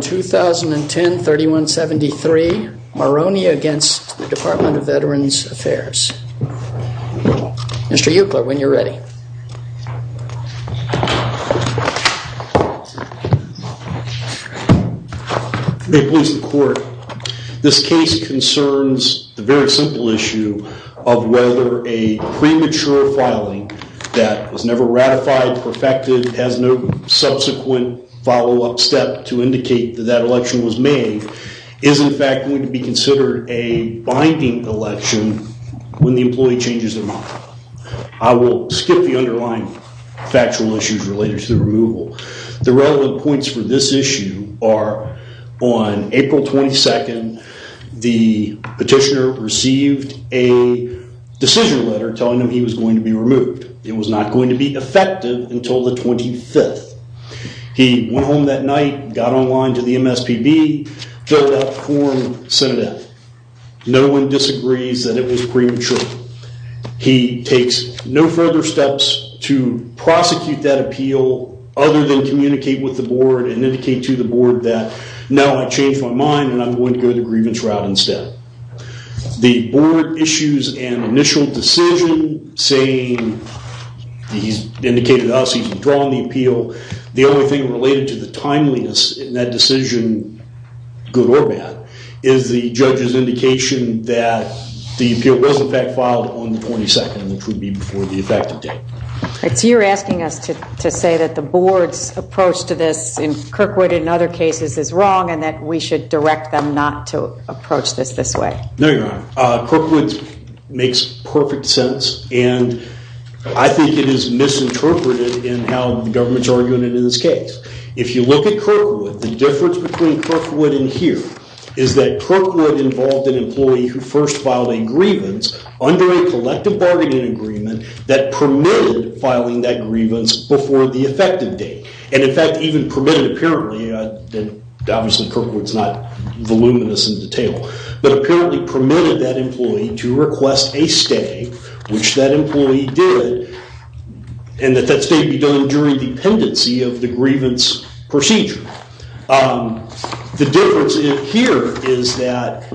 2010-3173 Maroney v. Department of Veterans Affairs This case concerns the very simple issue of whether a premature filing that was never ratified, perfected, and has no subsequent follow-up step to indicate that that election was made, is in fact going to be considered a binding election when the employee changes their mind. I will skip the underlying factual issues related to the removal. The relevant points for this issue are on April 22, the petitioner received a decision letter telling him he was going to be removed. It was not going to be effective until the 25th. He went home that night, got online to the MSPB, filled out form, sent it out. No one disagrees that it was premature. He takes no further steps to prosecute that appeal other than communicate with the board and indicate to the board that now I've changed my mind and I'm going to go the grievance route instead. The board issues an initial decision saying he's indicated to us he's withdrawn the appeal. The only thing related to the timeliness in that decision, good or bad, is the judge's indication that the appeal was in fact filed on the 22nd, which would be before the effective date. So you're asking us to say that the board's approach to this in Kirkwood and other cases is wrong and that we should direct them not to approach this this way? No, Your Honor. Kirkwood makes perfect sense, and I think it is misinterpreted in how the government's arguing it in this case. If you look at Kirkwood, the difference between Kirkwood and here is that Kirkwood involved an employee who first filed a grievance under a collective bargaining agreement that permitted filing that grievance before the effective date. And in fact, even permitted apparently, and obviously Kirkwood's not voluminous in detail, but apparently permitted that employee to request a stay, which that employee did, and that that stay be done during the pendency of the grievance procedure. The difference here is that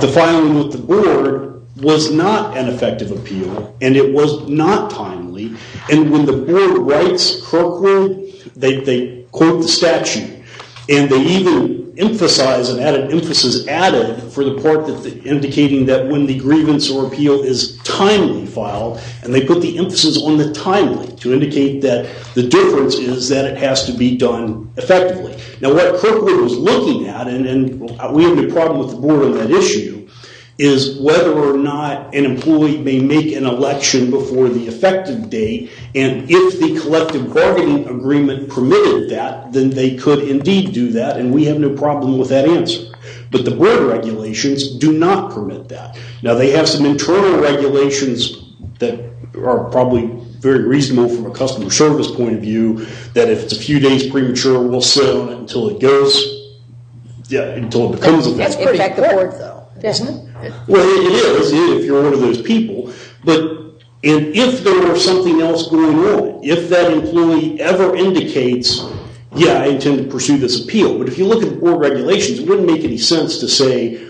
the filing with the board was not an effective appeal, and it was not timely. And when the board writes Kirkwood, they quote the statute, and they even emphasize, and add an emphasis added for the part indicating that when the grievance or appeal is timely filed, and they put the emphasis on the timely to indicate that the difference is that it has to be done effectively. Now what Kirkwood was looking at, and we have no problem with the board on that issue, is whether or not an employee may make an election before the effective date, and if the collective bargaining agreement permitted that, then they could indeed do that, and we have no problem with that answer. But the board regulations do not permit that. Now they have some internal regulations that are probably very reasonable from a customer service point of view, that if it's a few days premature, we'll sit on it until it goes, until it becomes effective. That's pretty important, isn't it? Well, it is if you're one of those people. But if there were something else going on, if that employee ever indicates, yeah, I intend to pursue this appeal, but if you look at the board regulations, it wouldn't make any sense to say,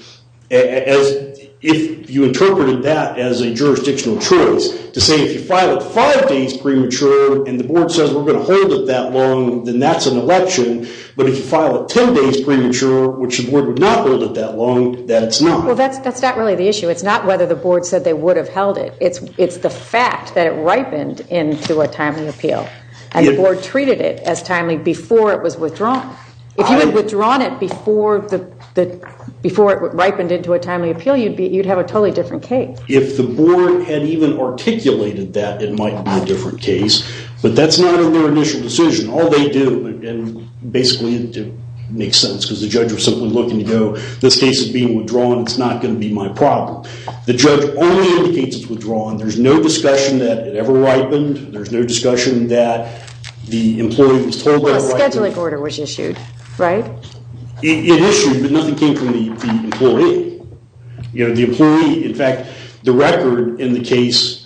if you interpreted that as a jurisdictional choice, to say if you file it five days premature, and the board says we're going to hold it that long, then that's an election, but if you file it 10 days premature, which the board would not hold it that long, that's not. Well, that's not really the issue. It's not whether the board said they would have held it. It's the fact that it ripened into a timely appeal, and the board treated it as timely before it was withdrawn. If you had withdrawn it before it ripened into a timely appeal, you'd have a totally different case. If the board had even articulated that, it might be a different case, but that's not in their initial decision. All they do, and basically it makes sense because the judge was simply looking to go, this case is being withdrawn. It's not going to be my problem. The judge only indicates it's withdrawn. There's no discussion that it ever ripened. There's no discussion that the employee was told that it ripened. Well, a scheduling order was issued, right? It issued, but nothing came from the employee. The employee, in fact, the record in the case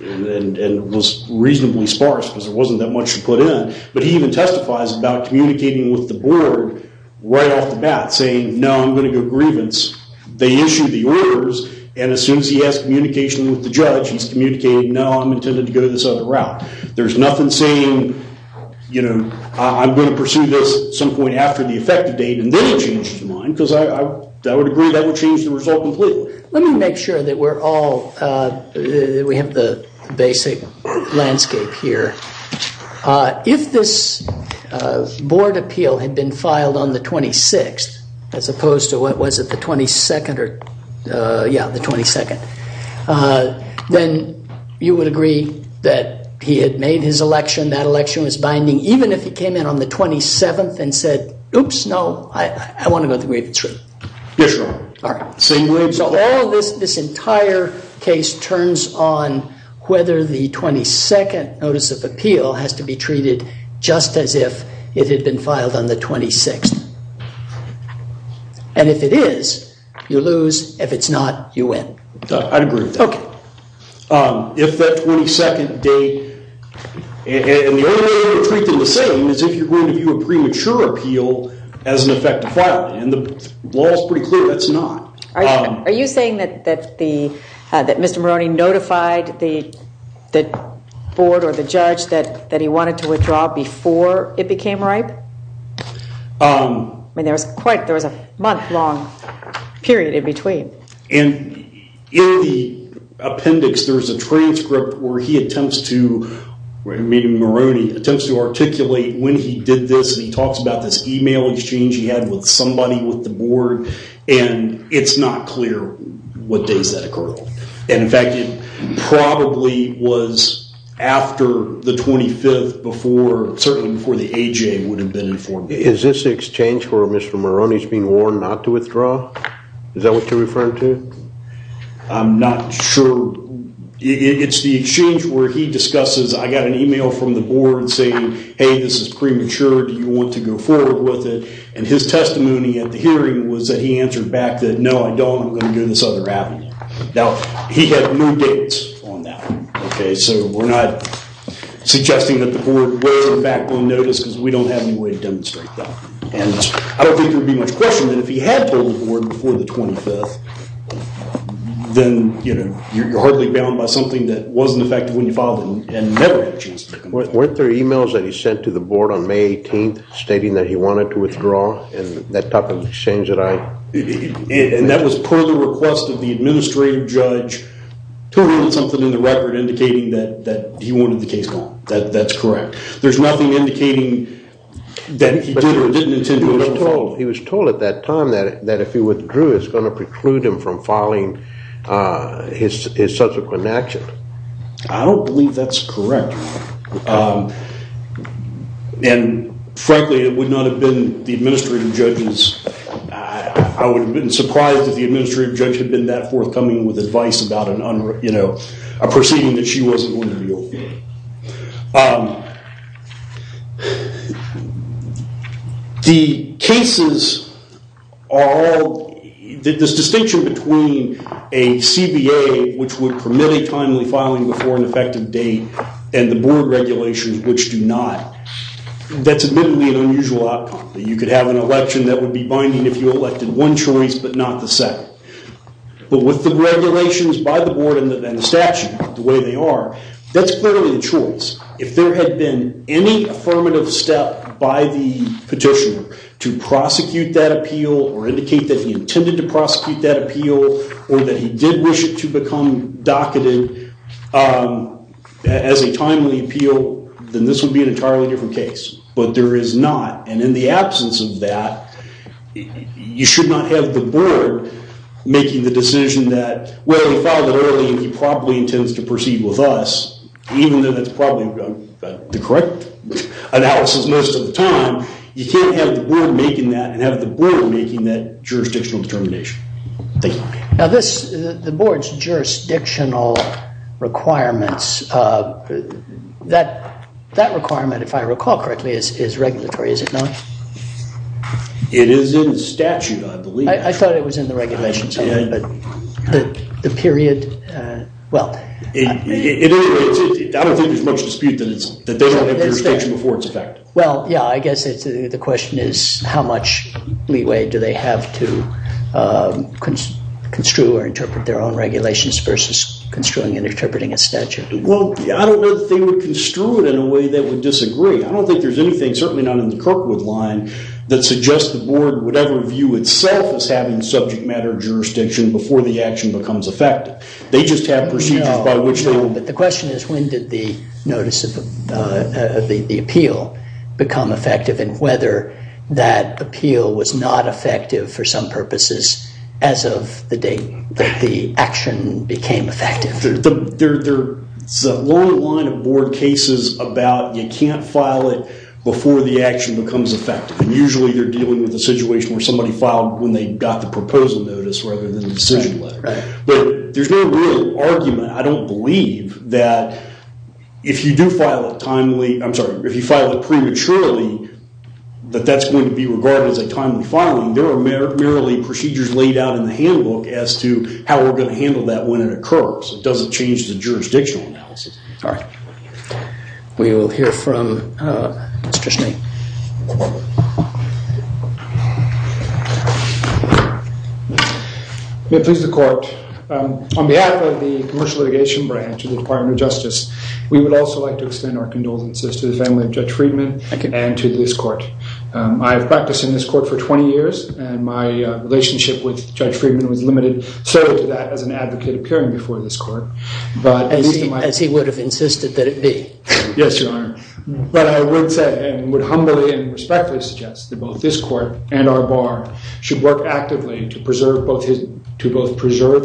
was reasonably sparse because there wasn't that much to put in, but he even testifies about communicating with the board right off the bat, saying, no, I'm going to go grievance. They issue the orders, and as soon as he has communication with the judge, he's communicating, no, I'm intending to go this other route. There's nothing saying, I'm going to pursue this at some point after the effective date, and then he changes his mind because I would agree that would change the result completely. Let me make sure that we have the basic landscape here. If this board appeal had been filed on the 26th as opposed to, what was it, the 22nd, then you would agree that he had made his election, that election was binding, even if he came in on the 27th and said, oops, no, I want to go to the grievance route. Yes, Your Honor. All right. So this entire case turns on whether the 22nd notice of appeal has to be treated just as if it had been filed on the 26th, and if it is, you lose. If it's not, you win. I'd agree with that. Okay. If that 22nd date, and the only way you're treating the system is if you're going to view a premature appeal as an effective filing, and the law is pretty clear that's not. Are you saying that Mr. Maroney notified the board or the judge that he wanted to withdraw before it became ripe? I mean, there was a month-long period in between. And in the appendix, there's a transcript where he attempts to, meaning Maroney, attempts to articulate when he did this, and he talks about this e-mail exchange he had with somebody with the board, and it's not clear what days that occurred. And, in fact, it probably was after the 25th, certainly before the AJA would have been informed. Is this the exchange where Mr. Maroney's being warned not to withdraw? Is that what you're referring to? I'm not sure. It's the exchange where he discusses, I got an e-mail from the board saying, hey, this is premature. Do you want to go forward with it? And his testimony at the hearing was that he answered back that, no, I don't. I'm going to go this other avenue. Now, he had no dates on that. Okay, so we're not suggesting that the board were back on notice because we don't have any way to demonstrate that. And I don't think there would be much question that if he had told the board before the 25th, then, you know, you're hardly bound by something that wasn't effective when you filed it and never had a chance to do it. Weren't there e-mails that he sent to the board on May 18th stating that he wanted to withdraw in that type of exchange that I? And that was per the request of the administrative judge, totally something in the record indicating that he wanted the case gone. That's correct. There's nothing indicating that he did or didn't intend to withdraw. He was told at that time that if he withdrew, it was going to preclude him from filing his subsequent action. I don't believe that's correct. And, frankly, it would not have been the administrative judge's. I would have been surprised if the administrative judge had been that forthcoming with advice about, you know, a proceeding that she wasn't going to deal with. The cases are all this distinction between a CBA, which would permit a timely filing before an effective date, and the board regulations, which do not. That's admittedly an unusual outcome. You could have an election that would be binding if you elected one choice but not the second. But with the regulations by the board and the statute the way they are, that's clearly a choice. If there had been any affirmative step by the petitioner to prosecute that appeal or indicate that he intended to prosecute that appeal or that he did wish it to become docketed as a timely appeal, then this would be an entirely different case. But there is not. And in the absence of that, you should not have the board making the decision that, well, he filed it early and he probably intends to proceed with us, even though that's probably the correct analysis most of the time. You can't have the board making that and have the board making that jurisdictional determination. Thank you. The board's jurisdictional requirements, that requirement, if I recall correctly, is regulatory, is it not? It is in the statute, I believe. I thought it was in the regulations. I don't think there's much dispute that they don't have jurisdiction before it's effective. Well, yeah, I guess the question is, how much leeway do they have to construe or interpret their own regulations versus construing and interpreting a statute? Well, I don't know that they would construe it in a way that would disagree. I don't think there's anything, certainly not in the Kirkwood line, that suggests the board would ever view itself as having subject matter jurisdiction before the action becomes effective. They just have procedures by which they will. But the question is, when did the notice of the appeal become effective and whether that appeal was not effective for some purposes as of the date that the action became effective? There's a long line of board cases about you can't file it before the action becomes effective. And usually they're dealing with a situation where somebody filed when they got the proposal notice rather than the decision letter. But there's no real argument. I don't believe that if you do file it prematurely, that that's going to be regarded as a timely filing. There are merely procedures laid out in the handbook as to how we're going to handle that when it occurs. It doesn't change the jurisdictional analysis. All right. We will hear from Mr. Schnee. May it please the court. On behalf of the Commercial Litigation Branch of the Department of Justice, we would also like to extend our condolences to the family of Judge Friedman and to this court. I have practiced in this court for 20 years, and my relationship with Judge Friedman was limited solely to that as an advocate appearing before this court. As he would have insisted that it be. Yes, Your Honor. But I would say and would humbly and respectfully suggest that both this court and our bar should work actively to preserve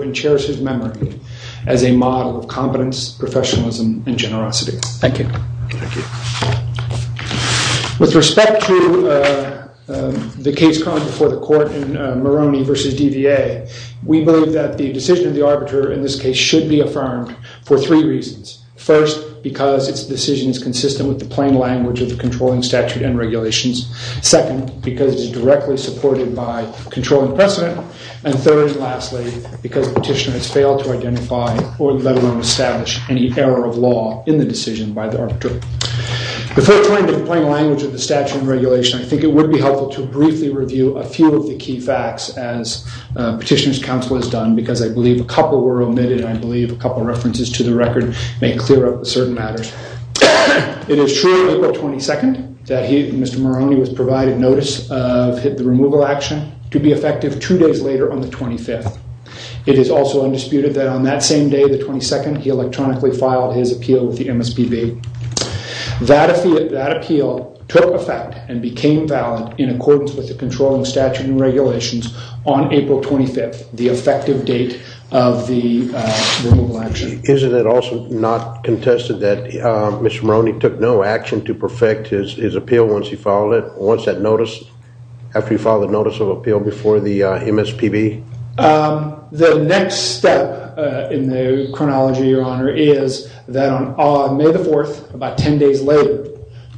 and cherish his memory as a model of competence, professionalism, and generosity. Thank you. Thank you. With respect to the case called before the court in Moroni v. DVA, we believe that the decision of the arbiter in this case should be affirmed for three reasons. First, because its decision is consistent with the plain language of the controlling statute and regulations. Second, because it is directly supported by controlling precedent. And third and lastly, because the petitioner has failed to identify or establish any error of law in the decision by the arbiter. Before turning to the plain language of the statute and regulation, I think it would be helpful to briefly review a few of the key facts as petitioner's counsel has done, because I believe a couple were omitted. I believe a couple of references to the record may clear up certain matters. It is true on April 22nd that Mr. Moroni was provided notice of the removal action to be effective two days later on the 25th. It is also undisputed that on that same day, the 22nd, he electronically filed his appeal with the MSPB. That appeal took effect and became valid in accordance with the controlling statute and regulations on April 25th, the effective date of the removal action. Isn't it also not contested that Mr. Moroni took no action to perfect his appeal once he filed it, once that notice, after he filed the notice of appeal before the MSPB? The next step in the chronology, Your Honor, is that on May the 4th, about 10 days later,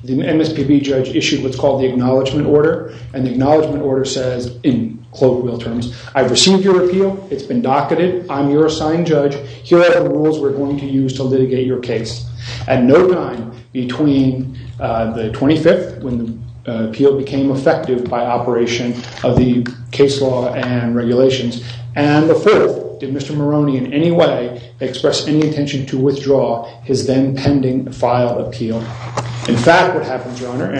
the MSPB judge issued what's called the Acknowledgement Order. And the Acknowledgement Order says, in Cloverfield terms, I've received your appeal. It's been docketed. I'm your assigned judge. Here are the rules we're going to use to litigate your case. At no time between the 25th, when the appeal became effective by operation of the case law and regulations, and the 4th, did Mr. Moroni in any way express any intention to withdraw his then-pending file appeal. In fact, what happens, Your Honor,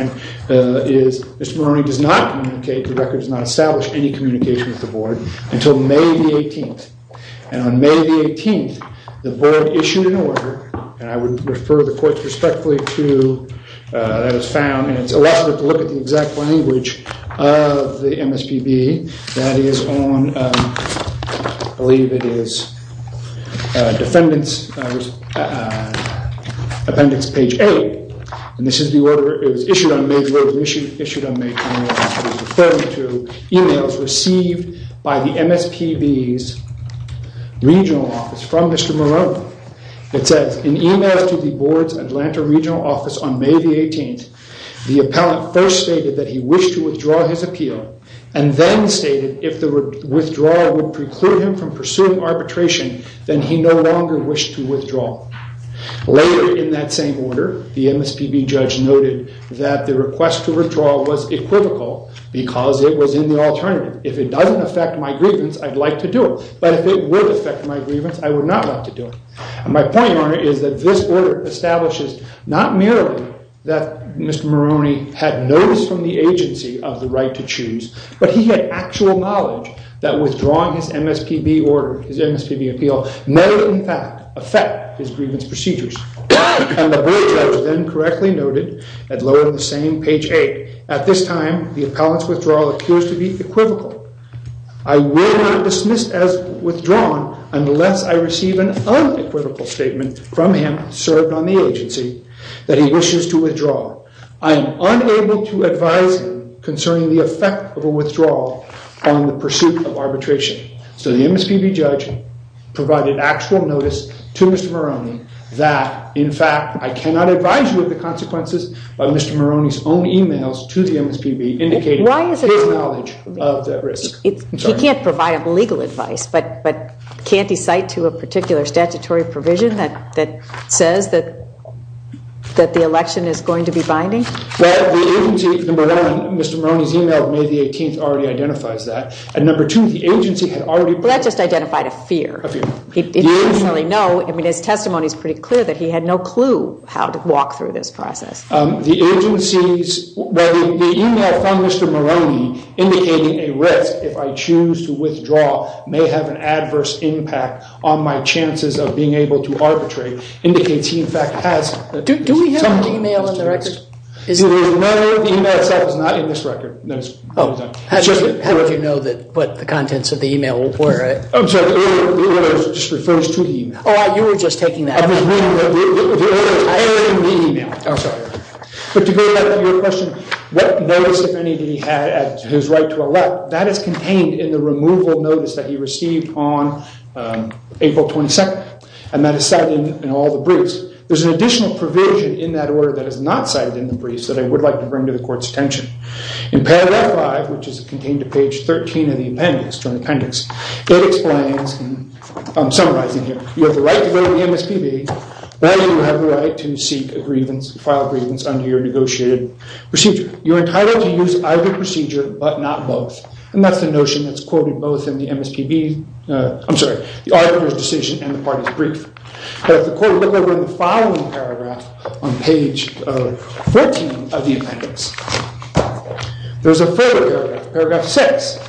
is Mr. Moroni does not communicate, the record does not establish any communication with the Board, until May the 18th. And on May the 18th, the Board issued an order, and I would refer the courts respectfully to, that was found, and it's a lot of work to look at the exact language of the MSPB. That is on, I believe it is, appendix page 8. And this is the order, it was issued on May the 4th, issued on May the 18th. Referring to emails received by the MSPB's regional office from Mr. Moroni. It says, in emails to the Board's Atlanta regional office on May the 18th, the appellant first stated that he wished to withdraw his appeal, and then stated if the withdrawal would preclude him from pursuing arbitration, then he no longer wished to withdraw. Later in that same order, the MSPB judge noted that the request to withdraw was equivocal, because it was in the alternative. If it doesn't affect my grievance, I'd like to do it. But if it would affect my grievance, I would not want to do it. And my point on it is that this order establishes, not merely that Mr. Moroni had notice from the agency of the right to choose, but he had actual knowledge that withdrawing his MSPB order, his MSPB appeal, may in fact affect his grievance procedures. And the Board judge then correctly noted, and lowered the same page 8, at this time, the appellant's withdrawal appears to be equivocal. I will not dismiss as withdrawn unless I receive an unequivocal statement from him, served on the agency, that he wishes to withdraw. I am unable to advise him concerning the effect of a withdrawal on the pursuit of arbitration. So the MSPB judge provided actual notice to Mr. Moroni that, in fact, I cannot advise you of the consequences, but Mr. Moroni's own emails to the MSPB indicated his knowledge of that risk. He can't provide legal advice, but can't he cite to a particular statutory provision that says that the election is going to be binding? Number one, Mr. Moroni's email of May the 18th already identifies that. And number two, the agency had already... Well, that just identified a fear. A fear. He didn't necessarily know. I mean, his testimony is pretty clear that he had no clue how to walk through this process. The agency's...well, the email from Mr. Moroni indicating a risk, if I choose to withdraw, may have an adverse impact on my chances of being able to arbitrate indicates he, in fact, has... Do we have an email in the record? There is none. The email itself is not in this record. Oh. How would you know what the contents of the email were? I'm sorry. It just refers to the email. Oh, you were just taking that. I was reading the email. I'm sorry. But to go back to your question, what notice, if any, did he have his right to elect, that is contained in the removal notice that he received on April 22nd, and that is cited in all the briefs. There's an additional provision in that order that is not cited in the briefs that I would like to bring to the Court's attention. In paragraph 5, which is contained to page 13 in the appendix, it explains, summarizing here, you have the right to go to the MSPB, rather you have the right to seek a grievance, file a grievance under your negotiated procedure. You're entitled to use either procedure, but not both. And that's the notion that's quoted both in the MSPB, I'm sorry, the arbitrator's decision and the party's brief. But if the Court would look over in the following paragraph on page 14 of the appendix, there's a further paragraph, paragraph 6.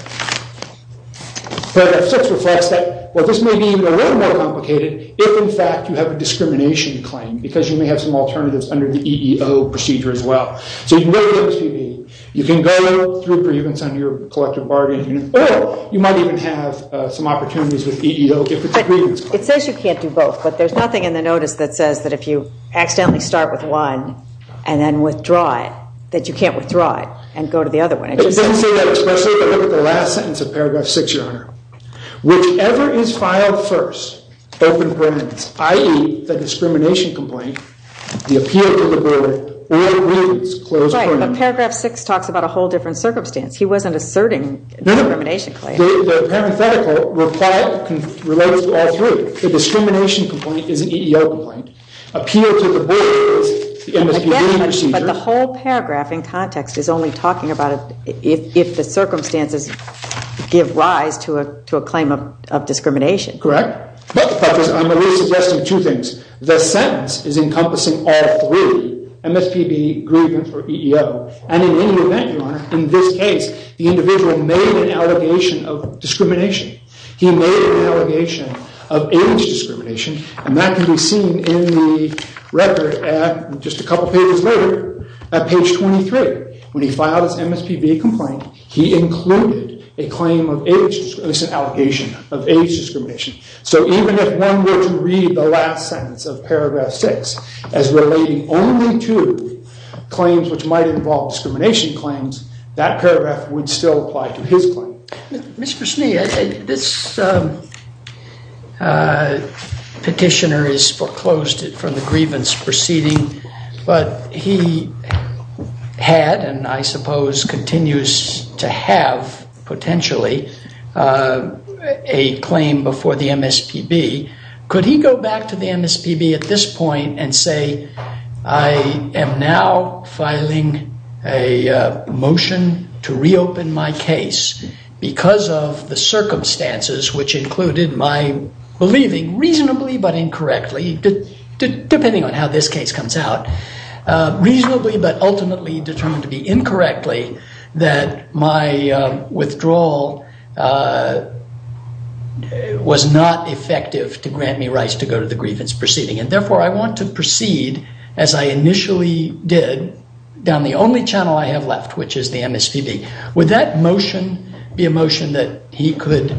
Paragraph 6 reflects that, well, this may be a little more complicated if, in fact, you have a discrimination claim because you may have some alternatives under the EEO procedure as well. So you can go to the MSPB. You can go through a grievance under your collective bargaining agreement, or you might even have some opportunities with EEO if it's a grievance claim. It says you can't do both, but there's nothing in the notice that says that if you accidentally start with one and then withdraw it, that you can't withdraw it and go to the other one. It doesn't say that, especially if you look at the last sentence of paragraph 6, Your Honor. Whichever is filed first, open grievance, i.e., the discrimination complaint, the appeal to the board, or a grievance, close agreement. Right, but paragraph 6 talks about a whole different circumstance. He wasn't asserting the discrimination claim. The parenthetical relates to all three. The discrimination complaint is an EEO complaint. Appeal to the board is the MSPB procedure. But the whole paragraph in context is only talking about if the circumstances give rise to a claim of discrimination. Correct. But, Justice, I'm only suggesting two things. The sentence is encompassing all three, MSPB, grievance, or EEO. And in any event, Your Honor, in this case, the individual made an allegation of discrimination. He made an allegation of age discrimination. And that can be seen in the record at just a couple pages later, at page 23. When he filed his MSPB complaint, he included a claim of age discrimination, an allegation of age discrimination. So even if one were to read the last sentence of paragraph 6 as relating only to claims which might involve discrimination claims, that paragraph would still apply to his claim. Mr. Schnee, this petitioner has foreclosed it from the grievance proceeding. But he had, and I suppose continues to have, potentially, a claim before the MSPB. Could he go back to the MSPB at this point and say, I am now filing a motion to reopen my case because of the circumstances, which included my believing, reasonably but incorrectly, depending on how this case comes out, reasonably but ultimately determined to be incorrectly that my withdrawal was not effective to grant me rights to go to the grievance proceeding. And therefore, I want to proceed, as I initially did, down the only channel I have left, which is the MSPB. Would that motion be a motion that he could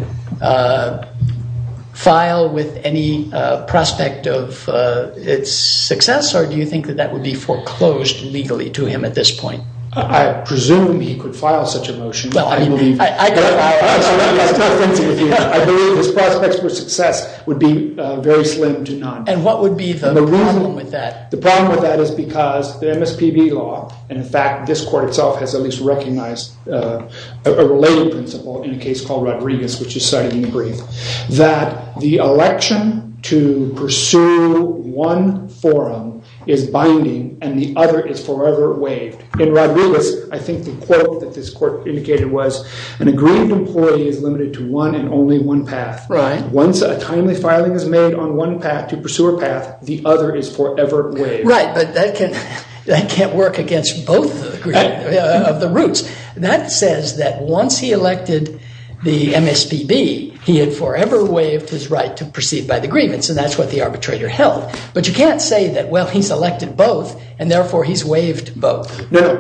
file with any prospect of its success, or do you think that that would be foreclosed legally to him at this point? I presume he could file such a motion. I believe his prospects for success would be very slim to none. And what would be the problem with that? The problem with that is because the MSPB law, and in fact, this court itself has at least recognized a related principle in a case called Rodriguez, which is cited in the brief, that the election to pursue one forum is binding and the other is forever waived. In Rodriguez, I think the quote that this court indicated was, an aggrieved employee is limited to one and only one path. Once a timely filing is made on one path to pursue a path, the other is forever waived. Right, but that can't work against both of the routes. That says that once he elected the MSPB, he had forever waived his right to proceed by the grievance, and that's what the arbitrator held. But you can't say that, well, he's elected both and therefore he's waived both. No,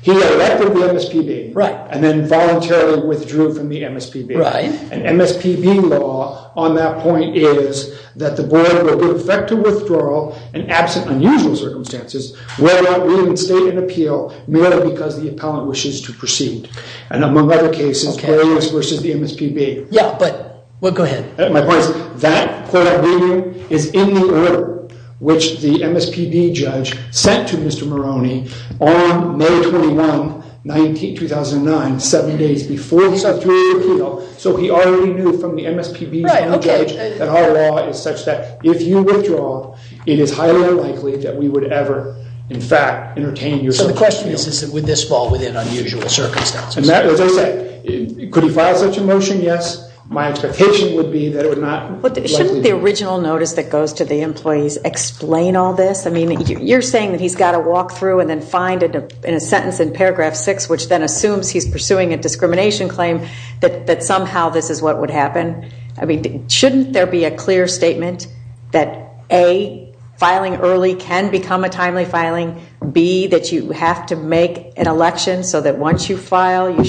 he elected the MSPB and then voluntarily withdrew from the MSPB. Right. And MSPB law on that point is that the board will give effect to withdrawal in absent unusual circumstances, whether or not we even state an appeal merely because the appellant wishes to proceed. And among other cases, Rodriguez versus the MSPB. Yeah, but go ahead. My point is, that court opinion is in the order which the MSPB judge sent to Mr. Maroney on May 21, 2009, seven days before he submitted his appeal, so he already knew from the MSPB's new judge that our law is such that if you withdraw, it is highly unlikely that we would ever, in fact, entertain your appeal. So the question is, is it with this ball within unusual circumstances? As I said, could he file such a motion? Yes. My expectation would be that it would not. Shouldn't the original notice that goes to the employees explain all this? I mean, you're saying that he's got to walk through and then find in a sentence in paragraph six, which then assumes he's pursuing a discrimination claim, that somehow this is what would happen. I mean, shouldn't there be a clear statement that, A, filing early can become a timely filing, B, that you have to make an election so that once you file,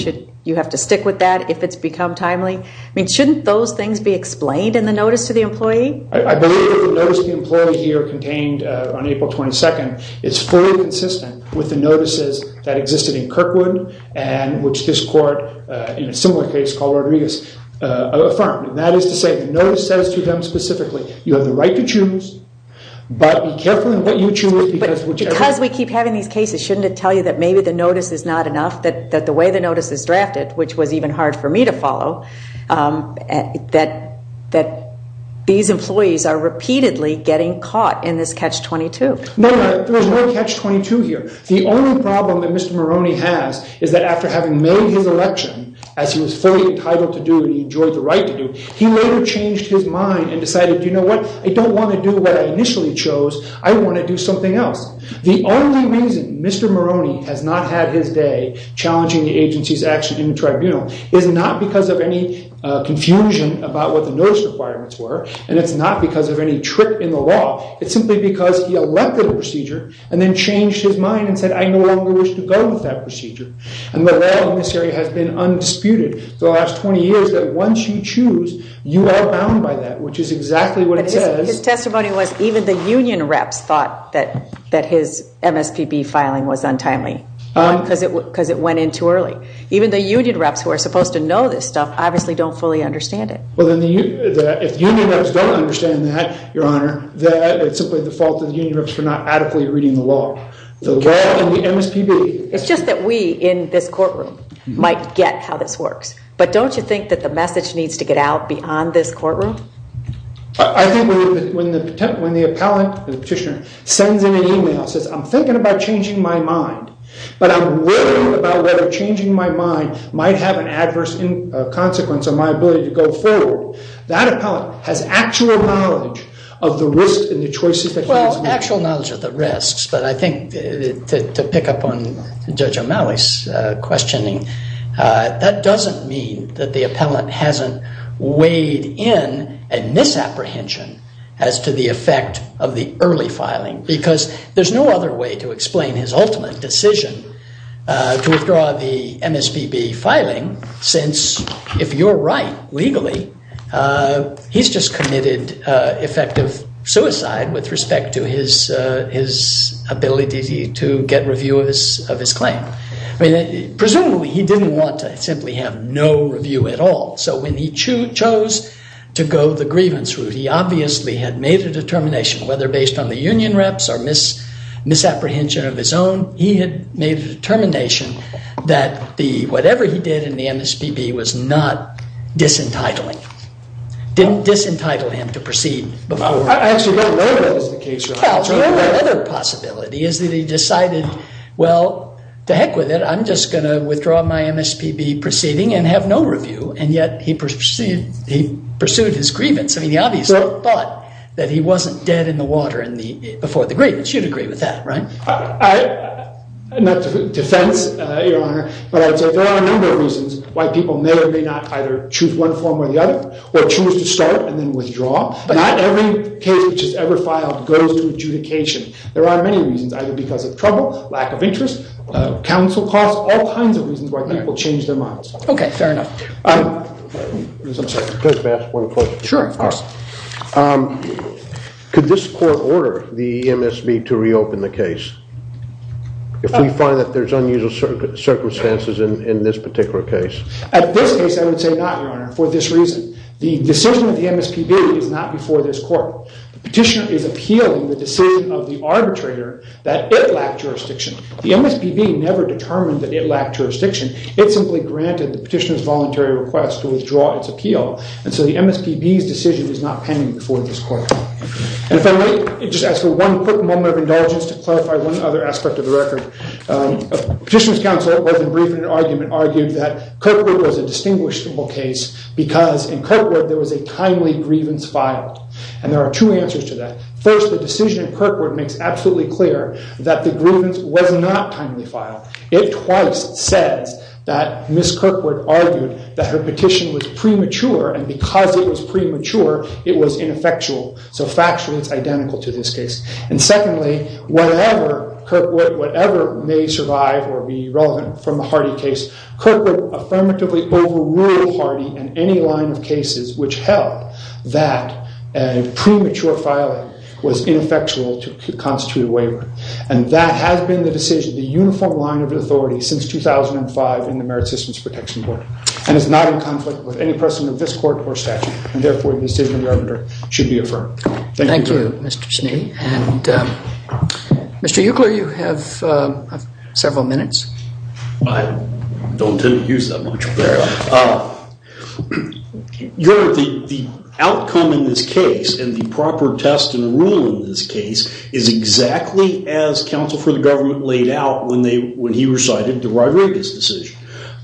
you have to stick with that if it's become timely? I mean, shouldn't those things be explained in the notice to the employee? I believe that the notice to the employee here contained on April 22nd is fully consistent with the notices that existed in Kirkwood and which this court, in a similar case called Rodriguez, affirmed. And that is to say the notice says to them specifically, you have the right to choose, but be careful in what you choose. But because we keep having these cases, shouldn't it tell you that maybe the notice is not enough, that the way the notice is drafted, which was even hard for me to follow, that these employees are repeatedly getting caught in this catch-22? No, no, there is no catch-22 here. The only problem that Mr. Maroney has is that after having made his election, as he was fully entitled to do and he enjoyed the right to do, he later changed his mind and decided, you know what, I don't want to do what I initially chose, I want to do something else. The only reason Mr. Maroney has not had his day challenging the agency's action in the tribunal is not because of any confusion about what the notice requirements were, and it's not because of any trick in the law. It's simply because he elected a procedure and then changed his mind and said, I no longer wish to go with that procedure. And the law in this area has been undisputed for the last 20 years that once you choose, you are bound by that, which is exactly what it says. His testimony was even the union reps thought that his MSPB filing was untimely, because it went in too early. Even the union reps who are supposed to know this stuff obviously don't fully understand it. Well, if union reps don't understand that, Your Honor, it's simply the fault of the union reps for not adequately reading the law. The law and the MSPB. It's just that we in this courtroom might get how this works. I think when the appellant, the petitioner, sends in an email and says, I'm thinking about changing my mind, but I'm worried about whether changing my mind might have an adverse consequence on my ability to go forward, that appellant has actual knowledge of the risks and the choices that he is making. Well, actual knowledge of the risks, but I think to pick up on Judge O'Malley's questioning, that doesn't mean that the appellant hasn't weighed in a misapprehension as to the effect of the early filing, because there's no other way to explain his ultimate decision to withdraw the MSPB filing, since if you're right, legally, he's just committed effective suicide with respect to his ability to get review of his claim. Presumably, he didn't want to simply have no review at all. So when he chose to go the grievance route, he obviously had made a determination, whether based on the union reps or misapprehension of his own, he had made a determination that whatever he did in the MSPB was not disentitling. Didn't disentitle him to proceed. I actually don't know if that was the case. Well, the only other possibility is that he decided, well, to heck with it, I'm just going to withdraw my MSPB proceeding and have no review, and yet he pursued his grievance. I mean, the obvious thought that he wasn't dead in the water before the grievance. You'd agree with that, right? Not to defense, Your Honor, but I would say there are a number of reasons why people may or may not or choose to start and then withdraw. Not every case which is ever filed goes to adjudication. There are many reasons, either because of trouble, lack of interest, counsel costs, all kinds of reasons why people change their minds. Okay, fair enough. Could I just ask one question? Sure, of course. Could this court order the MSPB to reopen the case if we find that there's unusual circumstances in this particular case? At this case, I would say not, Your Honor, for this reason. The decision of the MSPB is not before this court. The petitioner is appealing the decision of the arbitrator that it lacked jurisdiction. The MSPB never determined that it lacked jurisdiction. It simply granted the petitioner's voluntary request to withdraw its appeal, and so the MSPB's decision is not pending before this court. And if I might just ask for one quick moment of indulgence to clarify one other aspect of the record. Petitioner's counsel, both in brief and in argument, argued that Kirkwood was a distinguishable case because in Kirkwood there was a timely grievance filed. And there are two answers to that. First, the decision in Kirkwood makes absolutely clear that the grievance was not timely filed. It twice says that Ms. Kirkwood argued that her petition was premature, and because it was premature, it was ineffectual. So factually, it's identical to this case. And secondly, whatever may survive or be relevant from the Hardy case, Kirkwood affirmatively overruled Hardy in any line of cases which held that a premature filing was ineffectual to constitute a waiver. And that has been the decision of the uniform line of authority since 2005 in the Merit Systems Protection Board. And it's not in conflict with any precedent of this court or statute, and therefore the decision of the arbitrator should be affirmed. Thank you, Mr. Schnee. Mr. Eucler, you have several minutes. I don't intend to use that much. The outcome in this case and the proper test and rule in this case is exactly as counsel for the government laid out when he recited the Rodriguez decision.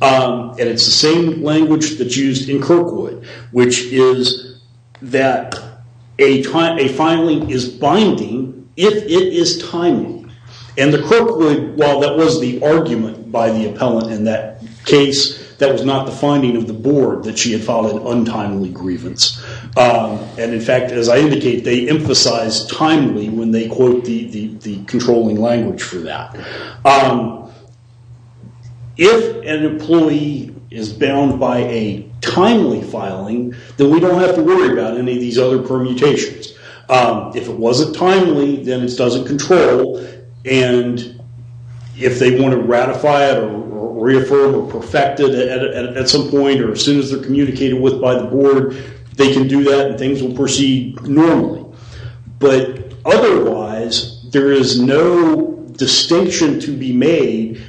And it's the same language that's used in Kirkwood, which is that a filing is binding if it is timely. And the Kirkwood, while that was the argument by the appellant in that case, that was not the finding of the board that she had filed an untimely grievance. And in fact, as I indicate, they emphasize timely when they quote the controlling language for that. If an employee is bound by a timely filing, then we don't have to worry about any of these other permutations. If it wasn't timely, then it doesn't control. And if they want to ratify it or reaffirm or perfect it at some point or as soon as they're communicated with by the board, they can do that and things will proceed normally. But otherwise, there is no distinction to be made.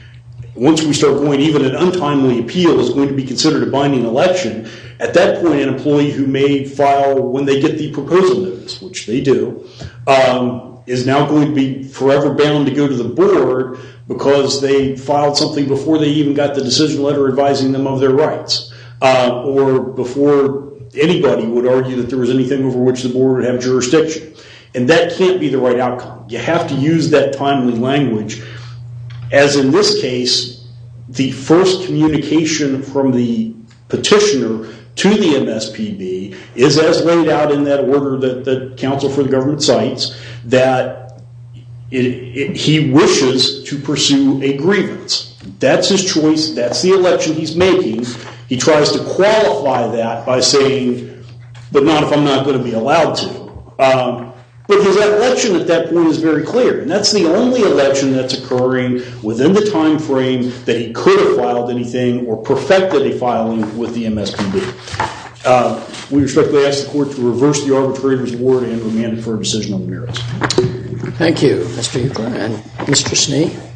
Once we start going, even an untimely appeal is going to be considered a binding election. At that point, an employee who may file when they get the proposal notice, which they do, is now going to be forever bound to go to the board because they filed something before they even got the decision letter advising them of their rights or before anybody would argue that there was anything over which the board would have jurisdiction. And that can't be the right outcome. You have to use that timely language. As in this case, the first communication from the petitioner to the MSPB is as laid out in that order that the counsel for the government cites that he wishes to pursue a grievance. That's his choice. That's the election he's making. He tries to qualify that by saying, but not if I'm not going to be allowed to. But his election at that point is very clear, and that's the only election that's occurring within the time frame that he could have filed anything or perfected a filing with the MSPB. We respectfully ask the court to reverse the arbitrator's board and remand it for a decision on the merits. Thank you, Mr. Ukler. And Mr. Schnee?